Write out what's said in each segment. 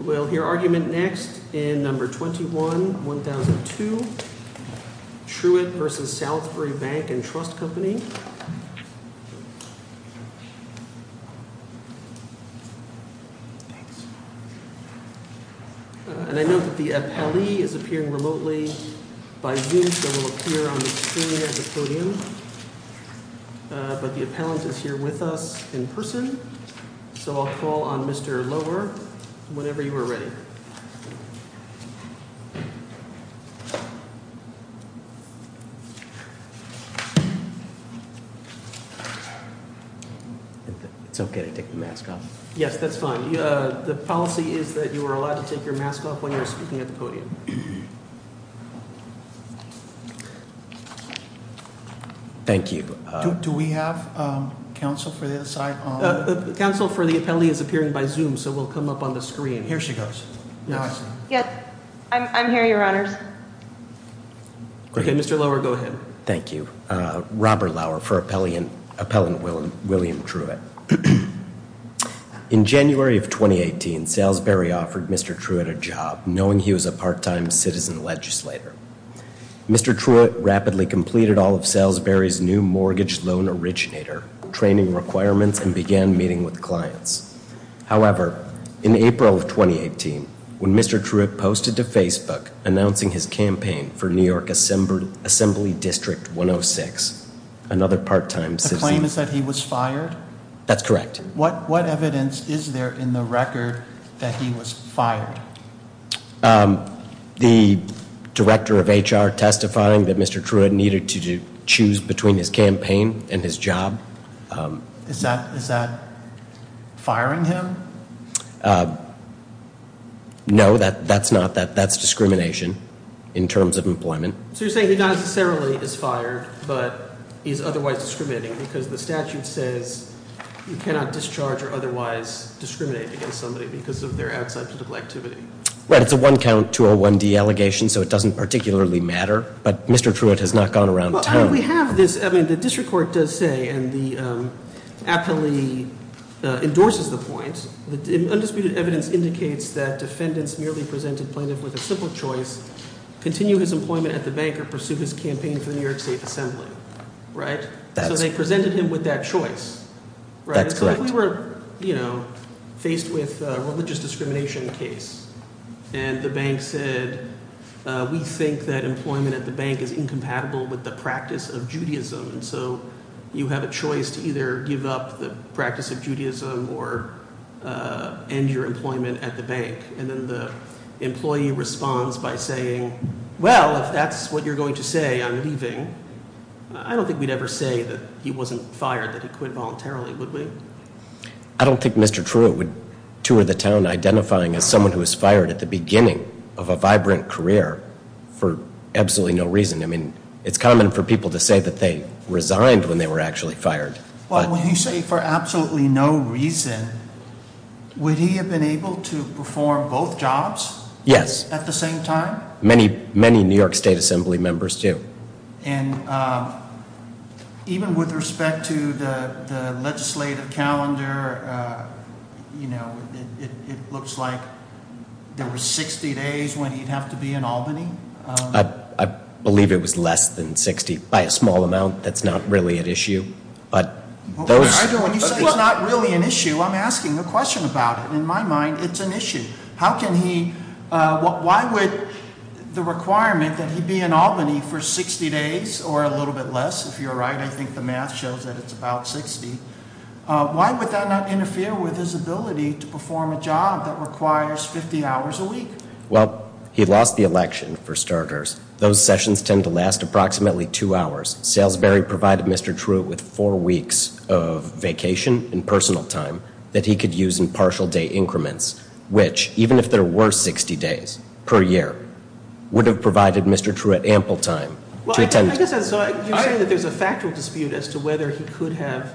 We'll hear argument next in number 21-1002, Truitt v. Salisbury Bank and Trust Company. And I know that the appellee is appearing remotely by Zoom, so he'll appear on the screen at the podium. But the appellant is here with us in person, so I'll call on Mr. Lower whenever you are ready. It's okay to take the mask off. Yes, that's fine. The policy is that you are allowed to take your mask off when you're speaking at the podium. Thank you. Do we have counsel for this? I counsel for the appellee is appearing by Zoom, so we'll come up on the screen. Here she goes. Mr. Lower, go ahead. In January of 2018, Salisbury offered Mr. Truitt a job, knowing he was a part-time citizen legislator. Mr. Truitt rapidly completed all of Salisbury's new mortgage loan originator training requirements and began meeting with clients. However, in April of 2018, when Mr. Truitt posted to Facebook announcing his campaign for New York Assembly District 106, another part-time citizen... The claim is that he was fired? That's correct. What evidence is there in the record that he was fired? The director of HR testifying that Mr. Truitt needed to choose between his campaign and his job. Is that firing him? No, that's discrimination in terms of employment. So you're saying he not necessarily is fired, but is otherwise discriminating because the statute says you cannot discharge or otherwise discriminate against somebody because of their outside political activity? Right. It's a one-count 201D allegation, so it doesn't particularly matter, but Mr. Truitt has not gone around town. We have this. I mean, the district court does say, and the appellee endorses the point, that undisputed evidence indicates that defendants merely presented plaintiff with a simple choice, continue his employment at the bank or pursue his campaign for the New York State Assembly, right? So they presented him with that choice. That's correct. So if we were faced with a religious discrimination case and the bank said, we think that employment at the bank is incompatible with the practice of Judaism, so you have a choice to either give up the practice of Judaism or end your employment at the bank. And then the employee responds by saying, well, if that's what you're going to say, I'm leaving. I don't think we'd ever say that he wasn't fired, that he quit voluntarily, would we? I don't think Mr. Truitt would tour the town identifying as someone who was fired at the beginning of a vibrant career for absolutely no reason. I mean, it's common for people to say that they resigned when they were actually fired. Well, when you say for absolutely no reason, would he have been able to perform both jobs? Yes. At the same time? Many New York State Assembly members do. And even with respect to the legislative calendar, it looks like there were 60 days when he'd have to be in Albany? I believe it was less than 60, by a small amount. That's not really an issue. When you say it's not really an issue, I'm asking a question about it. In my mind, it's an issue. Why would the requirement that he be in Albany for 60 days, or a little bit less, if you're right, I think the math shows that it's about 60, why would that not interfere with his ability to perform a job that requires 50 hours a week? Well, he lost the election, for starters. Those sessions tend to last approximately two hours. Salisbury provided Mr. Truitt with four weeks of vacation and personal time that he could use in partial day increments, which, even if there were 60 days per year, would have provided Mr. Truitt ample time to attend. Well, I guess you're saying that there's a factual dispute as to whether he could have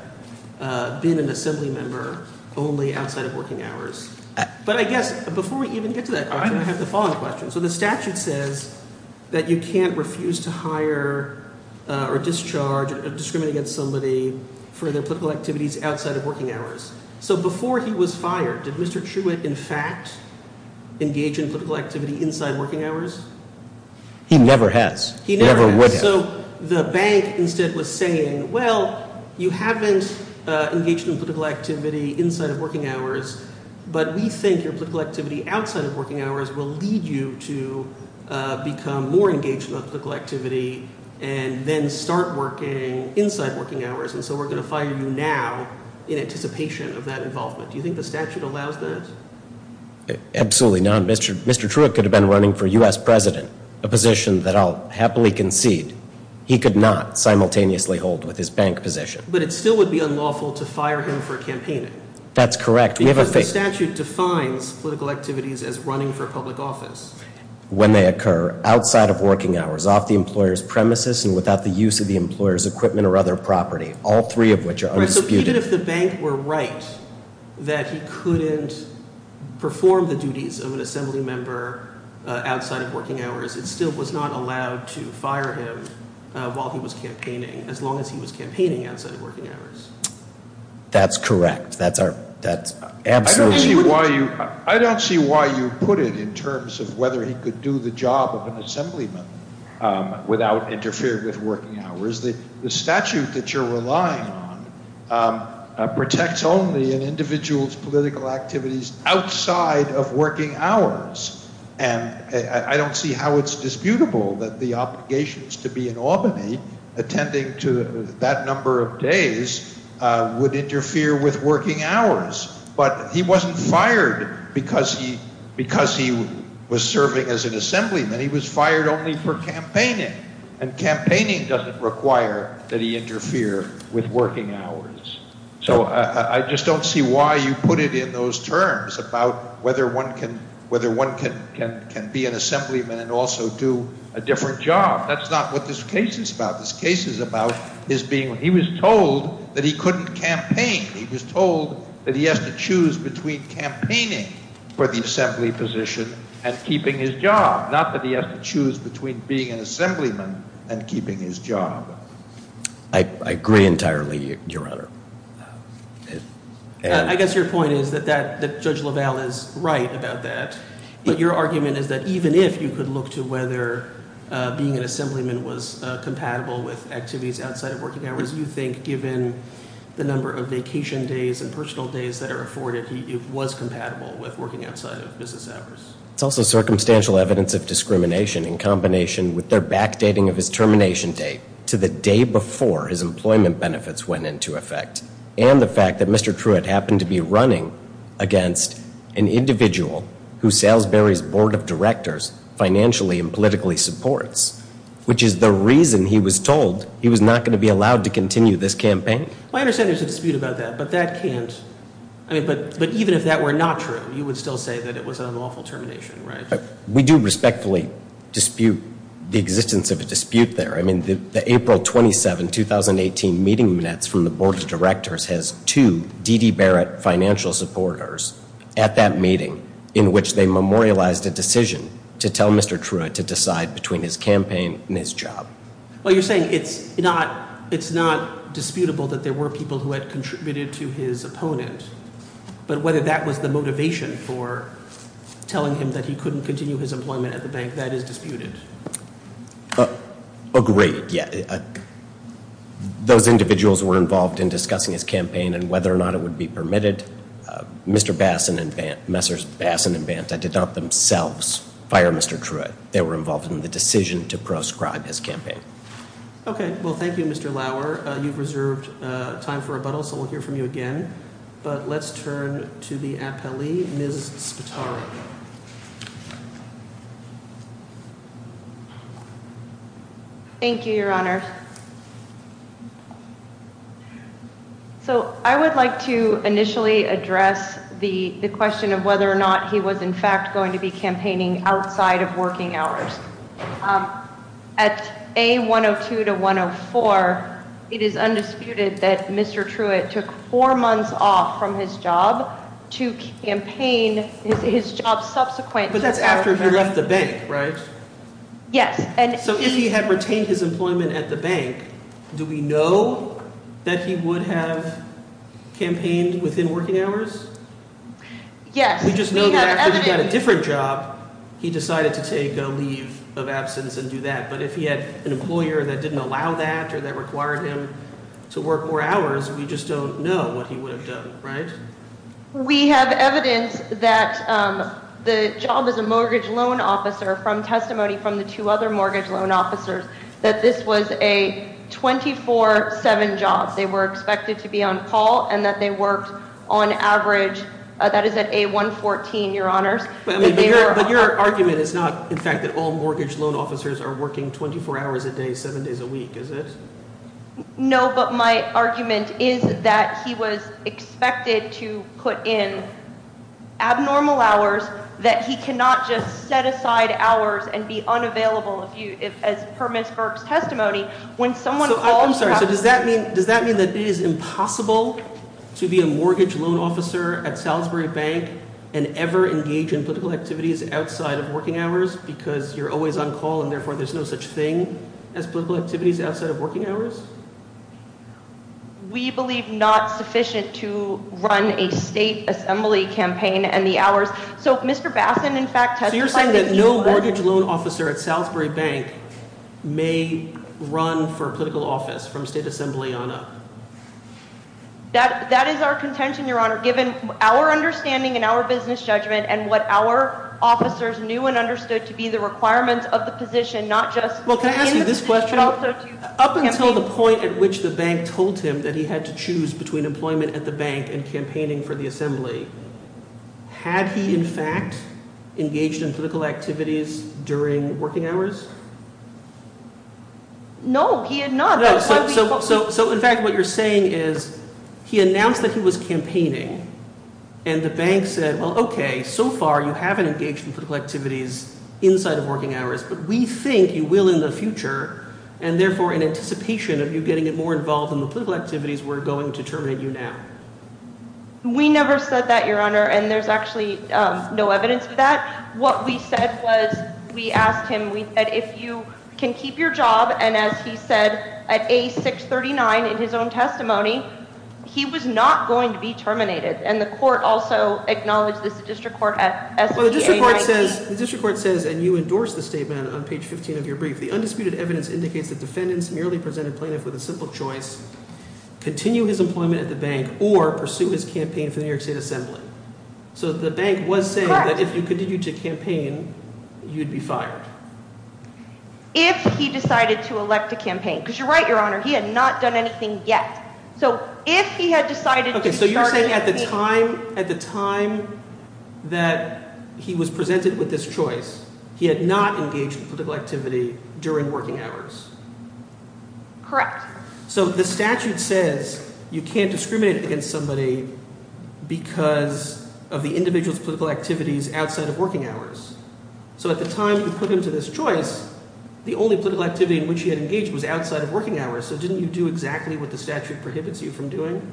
been an Assembly member only outside of working hours. But I guess, before we even get to that question, I have the following question. So the statute says that you can't refuse to hire or discharge or discriminate against somebody for their political activities outside of working hours. So before he was fired, did Mr. Truitt, in fact, engage in political activity inside working hours? He never has. He never would have. So the bank instead was saying, well, you haven't engaged in political activity inside of working hours, but we think your political activity outside of working hours will lead you to become more engaged in political activity and then start working inside working hours. And so we're going to fire you now in anticipation of that involvement. Do you think the statute allows that? Absolutely not. Mr. Truitt could have been running for U.S. president, a position that I'll happily concede he could not simultaneously hold with his bank position. But it still would be unlawful to fire him for campaigning. That's correct. Because the statute defines political activities as running for public office. When they occur outside of working hours, off the employer's premises, and without the use of the employer's equipment or other property, all three of which are undisputed. Even if the bank were right that he couldn't perform the duties of an assembly member outside of working hours, it still was not allowed to fire him while he was campaigning, as long as he was campaigning outside of working hours. That's correct. That's absolutely correct. I don't see why you put it in terms of whether he could do the job of an assemblyman without interfering with working hours. The statute that you're relying on protects only an individual's political activities outside of working hours. And I don't see how it's disputable that the obligations to be in Albany attending to that number of days would interfere with working hours. But he wasn't fired because he was serving as an assemblyman. He was fired only for campaigning, and campaigning doesn't require that he interfere with working hours. So I just don't see why you put it in those terms about whether one can be an assemblyman and also do a different job. That's not what this case is about. This case is about his being – he was told that he couldn't campaign. He was told that he has to choose between campaigning for the assembly position and keeping his job, not that he has to choose between being an assemblyman and keeping his job. I agree entirely, Your Honor. I guess your point is that Judge LaValle is right about that. But your argument is that even if you could look to whether being an assemblyman was compatible with activities outside of working hours, you think given the number of vacation days and personal days that are afforded, he was compatible with working outside of business hours. It's also circumstantial evidence of discrimination in combination with their backdating of his termination date to the day before his employment benefits went into effect, and the fact that Mr. Truitt happened to be running against an individual who Salisbury's board of directors financially and politically supports, which is the reason he was told he was not going to be allowed to continue this campaign. I understand there's a dispute about that, but that can't – I mean, but even if that were not true, you would still say that it was an unlawful termination, right? We do respectfully dispute the existence of a dispute there. I mean, the April 27, 2018 meeting minutes from the board of directors has two D.D. Barrett financial supporters at that meeting in which they memorialized a decision to tell Mr. Truitt to decide between his campaign and his job. Well, you're saying it's not – it's not disputable that there were people who had contributed to his opponent, but whether that was the motivation for telling him that he couldn't continue his employment at the bank, that is disputed. Agreed, yeah. Those individuals were involved in discussing his campaign and whether or not it would be permitted. Mr. Bassin and Banta did not themselves fire Mr. Truitt. They were involved in the decision to proscribe his campaign. Okay, well, thank you, Mr. Lauer. You've reserved time for rebuttal, so we'll hear from you again. But let's turn to the appellee, Ms. Spataro. Thank you, Your Honor. So I would like to initially address the question of whether or not he was, in fact, going to be campaigning outside of working hours. At A102 to 104, it is undisputed that Mr. Truitt took four months off from his job to campaign his job subsequently. But that's after he left the bank, right? Yes. So if he had retained his employment at the bank, do we know that he would have campaigned within working hours? Yes. We just know that after he got a different job, he decided to take a leave of absence and do that. But if he had an employer that didn't allow that or that required him to work more hours, we just don't know what he would have done, right? We have evidence that the job as a mortgage loan officer from testimony from the two other mortgage loan officers that this was a 24-7 job. They were expected to be on call and that they worked on average – that is at A114, Your Honors. But your argument is not, in fact, that all mortgage loan officers are working 24 hours a day, seven days a week, is it? No, but my argument is that he was expected to put in abnormal hours, that he cannot just set aside hours and be unavailable, as per Ms. Burk's testimony. I'm sorry, so does that mean that it is impossible to be a mortgage loan officer at Salisbury Bank and ever engage in political activities outside of working hours because you're always on call and therefore there's no such thing as political activities outside of working hours? We believe not sufficient to run a state assembly campaign and the hours – so Mr. Bassin, in fact, testified that he – That is our contention, Your Honor, given our understanding and our business judgment and what our officers knew and understood to be the requirements of the position, not just – Well, can I ask you this question? Up until the point at which the bank told him that he had to choose between employment at the bank and campaigning for the assembly, had he, in fact, engaged in political activities during working hours? No, he had not. So, in fact, what you're saying is he announced that he was campaigning, and the bank said, well, okay, so far you haven't engaged in political activities inside of working hours, but we think you will in the future, and therefore in anticipation of you getting more involved in the political activities, we're going to terminate you now. We never said that, Your Honor, and there's actually no evidence of that. What we said was we asked him – we said if you can keep your job, and as he said at A639 in his own testimony, he was not going to be terminated. And the court also acknowledged this. The district court at – The undisputed evidence indicates that defendants merely presented plaintiff with a simple choice, continue his employment at the bank or pursue his campaign for the New York State Assembly. So the bank was saying that if you continue to campaign, you'd be fired. If he decided to elect to campaign, because you're right, Your Honor. He had not done anything yet. So if he had decided to start a campaign – Correct. So the statute says you can't discriminate against somebody because of the individual's political activities outside of working hours. So at the time you put him to this choice, the only political activity in which he had engaged was outside of working hours. So didn't you do exactly what the statute prohibits you from doing?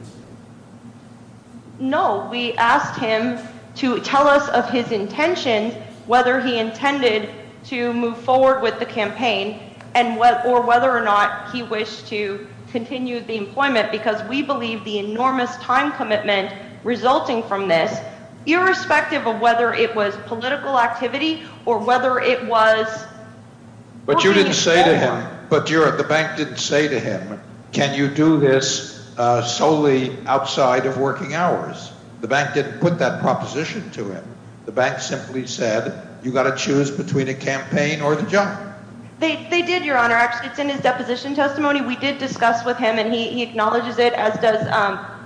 No. We asked him to tell us of his intention, whether he intended to move forward with the campaign or whether or not he wished to continue the employment, because we believe the enormous time commitment resulting from this, irrespective of whether it was political activity or whether it was – But you didn't say to him – but the bank didn't say to him, can you do this solely outside of working hours? The bank didn't put that proposition to him. The bank simply said, you've got to choose between a campaign or the job. They did, Your Honor. Actually, it's in his deposition testimony. We did discuss with him, and he acknowledges it, as does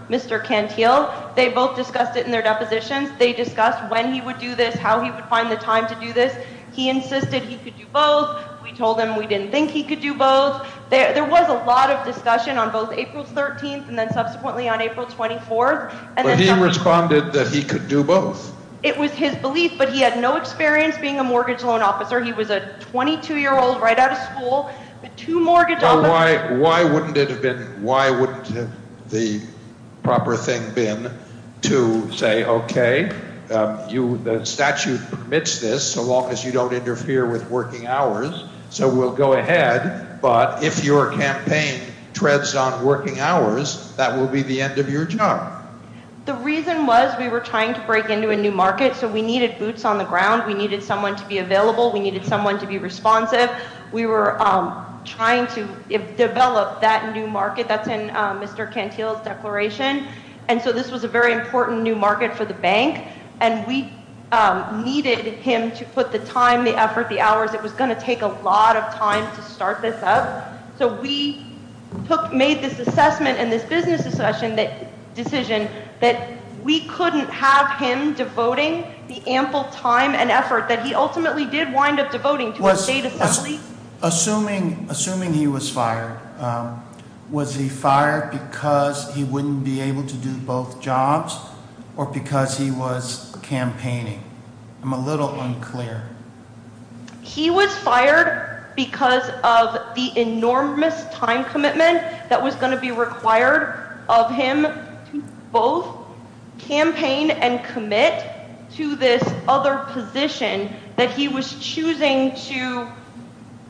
Mr. Cantil. They both discussed it in their depositions. They discussed when he would do this, how he would find the time to do this. He insisted he could do both. We told him we didn't think he could do both. There was a lot of discussion on both April 13th and then subsequently on April 24th. But he responded that he could do both. It was his belief, but he had no experience being a mortgage loan officer. He was a 22-year-old right out of school. Why wouldn't it have been – why wouldn't the proper thing been to say, OK, the statute permits this so long as you don't interfere with working hours, so we'll go ahead. But if your campaign treads on working hours, that will be the end of your job. The reason was we were trying to break into a new market, so we needed boots on the ground. We needed someone to be available. We needed someone to be responsive. We were trying to develop that new market. That's in Mr. Cantil's declaration. And so this was a very important new market for the bank, and we needed him to put the time, the effort, the hours. It was going to take a lot of time to start this up. So we made this assessment and this business decision that we couldn't have him devoting the ample time and effort that he ultimately did wind up devoting to the state assembly. Assuming he was fired, was he fired because he wouldn't be able to do both jobs or because he was campaigning? I'm a little unclear. He was fired because of the enormous time commitment that was going to be required of him to both campaign and commit to this other position that he was choosing to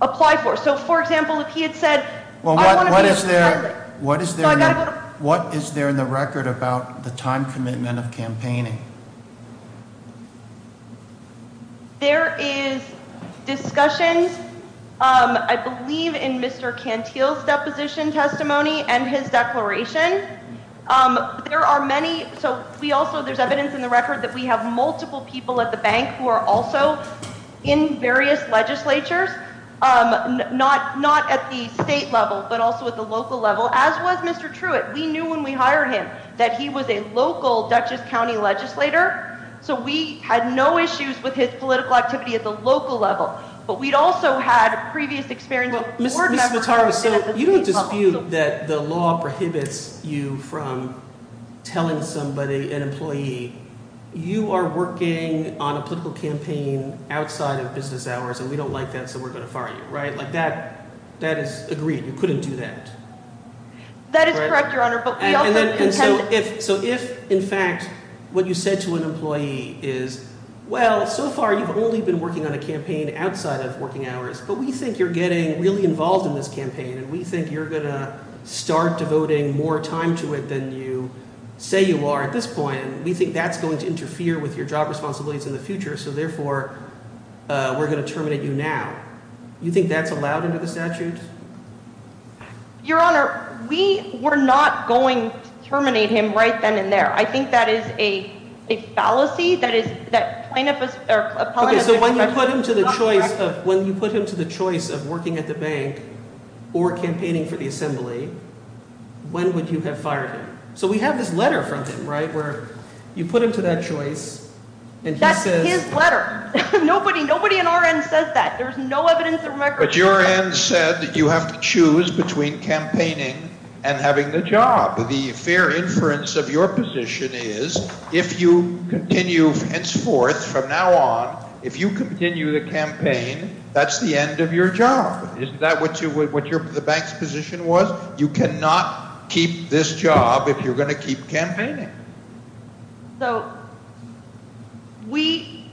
apply for. So, for example, if he had said, well, what is there? What is there? What is there in the record about the time commitment of campaigning? There is discussions, I believe, in Mr. Cantil's deposition testimony and his declaration. There are many. So we also there's evidence in the record that we have multiple people at the bank who are also in various legislatures, not not at the state level, but also at the local level. As was Mr. Truitt. We knew when we hired him that he was a local Dutchess County legislator. So we had no issues with his political activity at the local level. But we'd also had previous experience. So you don't dispute that the law prohibits you from telling somebody an employee you are working on a political campaign outside of business hours and we don't like that. So we're going to fire you. Right. That is agreed. You couldn't do that. That is correct, Your Honor. So if, in fact, what you said to an employee is, well, so far you've only been working on a campaign outside of working hours, but we think you're getting really involved in this campaign. And we think you're going to start devoting more time to it than you say you are at this point. We think that's going to interfere with your job responsibilities in the future. So, therefore, we're going to terminate you now. You think that's allowed under the statute? Your Honor, we were not going to terminate him right then and there. I think that is a fallacy. That is that plaintiff is. So when you put him to the choice of when you put him to the choice of working at the bank or campaigning for the assembly, when would you have fired him? So we have this letter from him, right? You put him to that choice. That's his letter. Nobody in our end says that. There's no evidence that we're going to fire him. But your end said that you have to choose between campaigning and having the job. The fair inference of your position is if you continue henceforth from now on, if you continue the campaign, that's the end of your job. Isn't that what the bank's position was? So you cannot keep this job if you're going to keep campaigning. So we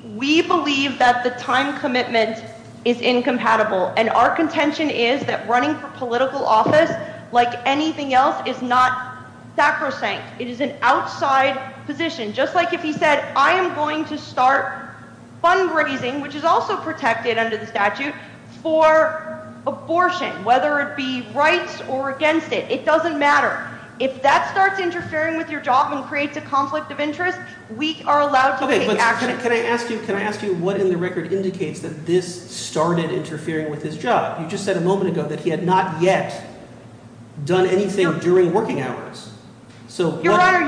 believe that the time commitment is incompatible, and our contention is that running for political office, like anything else, is not sacrosanct. It is an outside position. Just like if he said, I am going to start fundraising, which is also protected under the statute, for abortion, whether it be rights or against it. It doesn't matter. If that starts interfering with your job and creates a conflict of interest, we are allowed to take action. Can I ask you what in the record indicates that this started interfering with his job? You just said a moment ago that he had not yet done anything during working hours. Your Honor,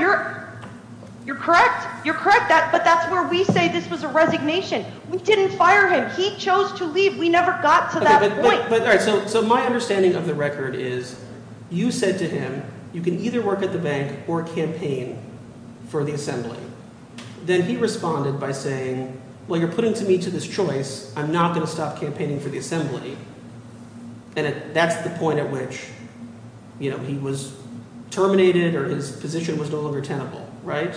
you're correct. You're correct, but that's where we say this was a resignation. We didn't fire him. He chose to leave. We never got to that point. So my understanding of the record is you said to him you can either work at the bank or campaign for the assembly. Then he responded by saying, well, you're putting me to this choice. I'm not going to stop campaigning for the assembly. And that's the point at which he was terminated or his position was no longer tenable, right?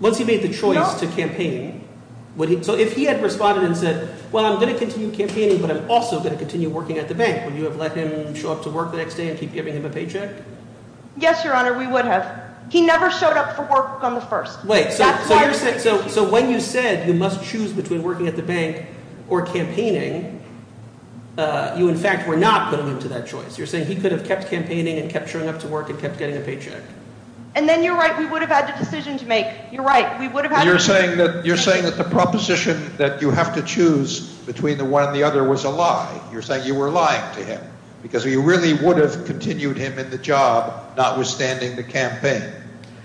Once he made the choice to campaign, would he – so if he had responded and said, well, I'm going to continue campaigning, but I'm also going to continue working at the bank, would you have let him show up to work the next day and keep giving him a paycheck? Yes, Your Honor. We would have. He never showed up for work on the first. Wait, so when you said you must choose between working at the bank or campaigning, you in fact were not putting him to that choice. You're saying he could have kept campaigning and kept showing up to work and kept getting a paycheck. And then you're right. We would have had to decision to make. You're right. We would have had to. You're saying that the proposition that you have to choose between the one and the other was a lie. You're saying you were lying to him because you really would have continued him in the job notwithstanding the campaign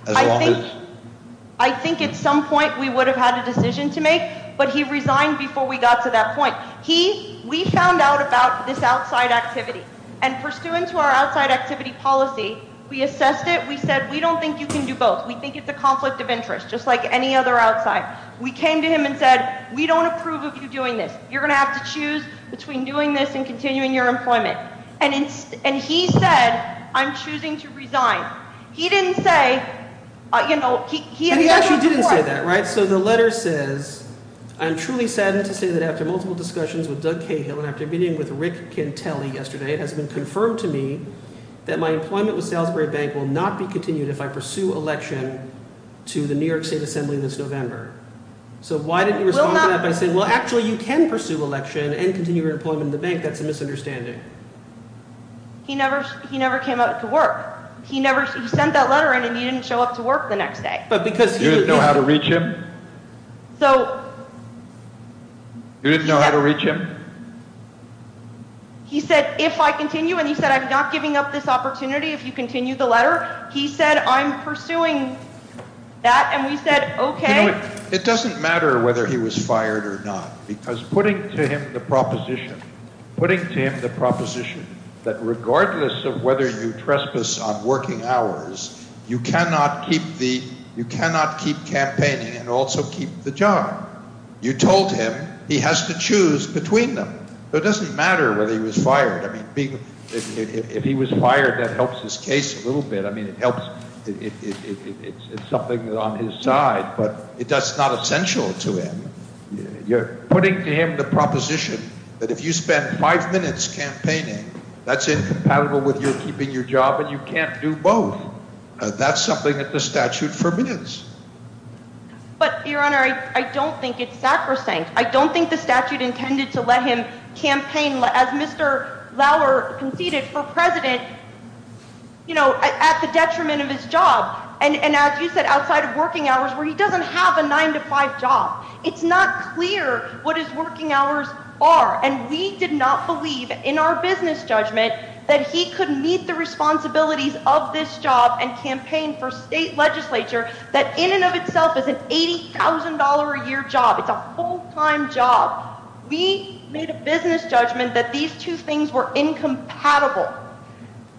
as long as – I think at some point we would have had a decision to make, but he resigned before we got to that point. He – we found out about this outside activity, and pursuant to our outside activity policy, we assessed it. We said, we don't think you can do both. We think it's a conflict of interest, just like any other outside. We came to him and said, we don't approve of you doing this. You're going to have to choose between doing this and continuing your employment. And he said, I'm choosing to resign. He didn't say – he actually didn't say that, right? So the letter says, I'm truly saddened to say that after multiple discussions with Doug Cahill and after meeting with Rick Cantelli yesterday, it has been confirmed to me that my employment with Salisbury Bank will not be continued if I pursue election to the New York State Assembly this November. So why didn't you respond to that by saying, well, actually you can pursue election and continue your employment in the bank. That's a misunderstanding. He never came out to work. He never – he sent that letter in and he didn't show up to work the next day. But because – You didn't know how to reach him? So – You didn't know how to reach him? He said, if I continue. And he said, I'm not giving up this opportunity if you continue the letter. He said, I'm pursuing that. And we said, OK. It doesn't matter whether he was fired or not because putting to him the proposition, putting to him the proposition that regardless of whether you trespass on working hours, you cannot keep the – you cannot keep campaigning and also keep the job. You told him he has to choose between them. So it doesn't matter whether he was fired. I mean being – if he was fired, that helps his case a little bit. I mean it helps. It's something that's on his side. But it's not essential to him. You're putting to him the proposition that if you spend five minutes campaigning, that's incompatible with your keeping your job and you can't do both. That's something that the statute forbids. But, Your Honor, I don't think it's sacrosanct. I don't think the statute intended to let him campaign as Mr. Lauer conceded for president at the detriment of his job. And as you said, outside of working hours where he doesn't have a nine-to-five job. It's not clear what his working hours are. And we did not believe in our business judgment that he could meet the responsibilities of this job and campaign for state legislature that in and of itself is an $80,000-a-year job. It's a full-time job. We made a business judgment that these two things were incompatible.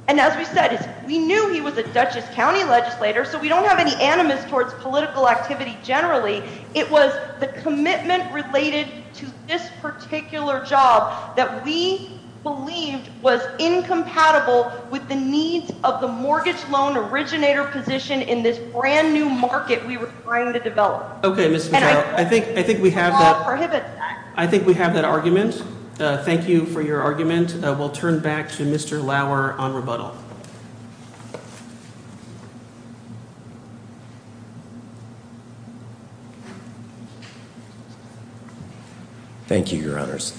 And as we said, we knew he was a Dutchess County legislator, so we don't have any animus towards political activity generally. It was the commitment related to this particular job that we believed was incompatible with the needs of the mortgage loan originator position in this brand-new market we were trying to develop. Okay, Ms. McHale. I think we have that argument. Thank you for your argument. We'll turn back to Mr. Lauer on rebuttal. Thank you, Your Honors.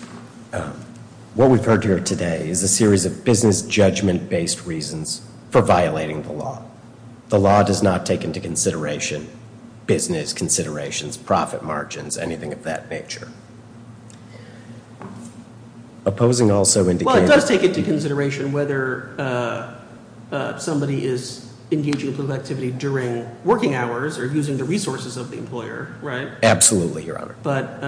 What we've heard here today is a series of business judgment-based reasons for violating the law. The law does not take into consideration business considerations, profit margins, anything of that nature. Well, it does take into consideration whether somebody is engaging in political activity during working hours or using the resources of the employer, right? Absolutely, Your Honor. But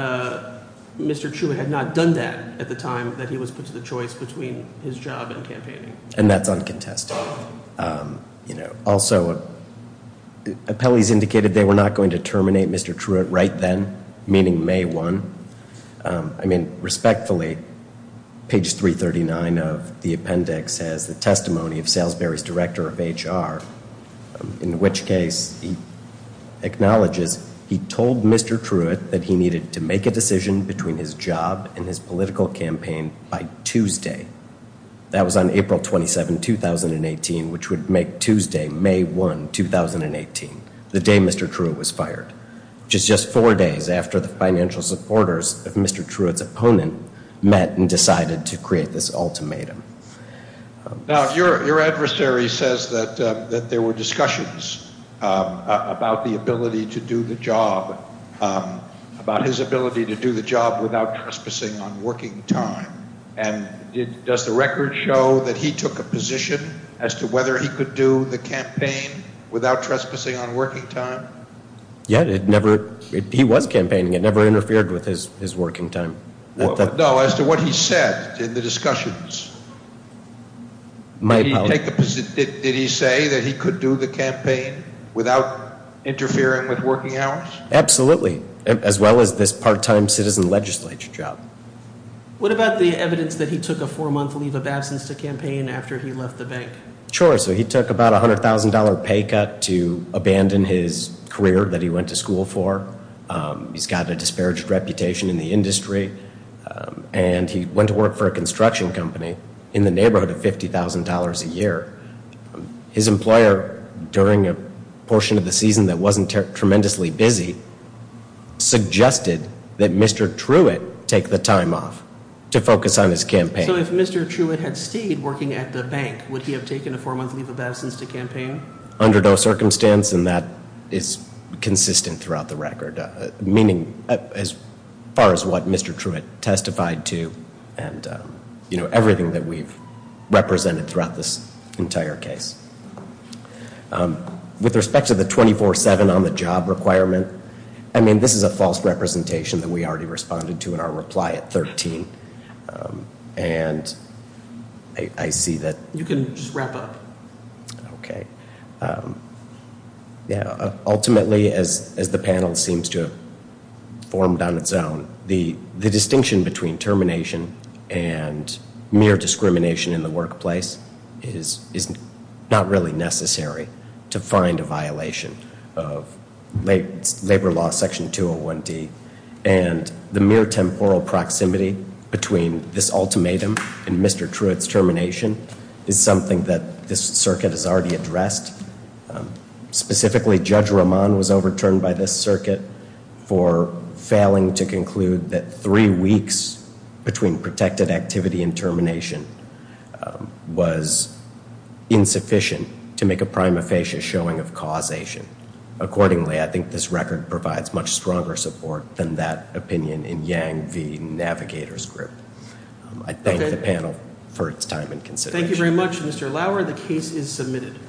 Mr. Truitt had not done that at the time that he was put to the choice between his job and campaigning. And that's uncontested. Also, appellees indicated they were not going to terminate Mr. Truitt right then, meaning May 1. I mean, respectfully, page 339 of the appendix has the testimony of Salisbury's director of HR, in which case he acknowledges he told Mr. Truitt that he needed to make a decision between his job and his political campaign by Tuesday. That was on April 27, 2018, which would make Tuesday May 1, 2018, the day Mr. Truitt was fired, which is just four days after the financial supporters of Mr. Truitt's opponent met and decided to create this ultimatum. Now, your adversary says that there were discussions about the ability to do the job, about his ability to do the job without trespassing on working time. And does the record show that he took a position as to whether he could do the campaign without trespassing on working time? Yeah, it never – he was campaigning. It never interfered with his working time. No, as to what he said in the discussions, did he say that he could do the campaign without interfering with working hours? Absolutely, as well as this part-time citizen legislature job. What about the evidence that he took a four-month leave of absence to campaign after he left the bank? Sure. So he took about a $100,000 pay cut to abandon his career that he went to school for. He's got a disparaged reputation in the industry. And he went to work for a construction company in the neighborhood of $50,000 a year. His employer, during a portion of the season that wasn't tremendously busy, suggested that Mr. Truitt take the time off to focus on his campaign. So if Mr. Truitt had stayed working at the bank, would he have taken a four-month leave of absence to campaign? Under no circumstance, and that is consistent throughout the record. Meaning as far as what Mr. Truitt testified to and everything that we've represented throughout this entire case. With respect to the 24-7 on-the-job requirement, I mean, this is a false representation that we already responded to in our reply at 13. And I see that – You can just wrap up. Okay. Ultimately, as the panel seems to have formed on its own, the distinction between termination and mere discrimination in the workplace is not really necessary to find a violation of Labor Law Section 201D. And the mere temporal proximity between this ultimatum and Mr. Truitt's termination is something that this circuit has already addressed. Specifically, Judge Roman was overturned by this circuit for failing to conclude that three weeks between protected activity and termination was insufficient to make a prima facie showing of causation. Accordingly, I think this record provides much stronger support than that opinion in Yang v. Navigator's group. I thank the panel for its time and consideration. Thank you very much, Mr. Lauer. The case is submitted.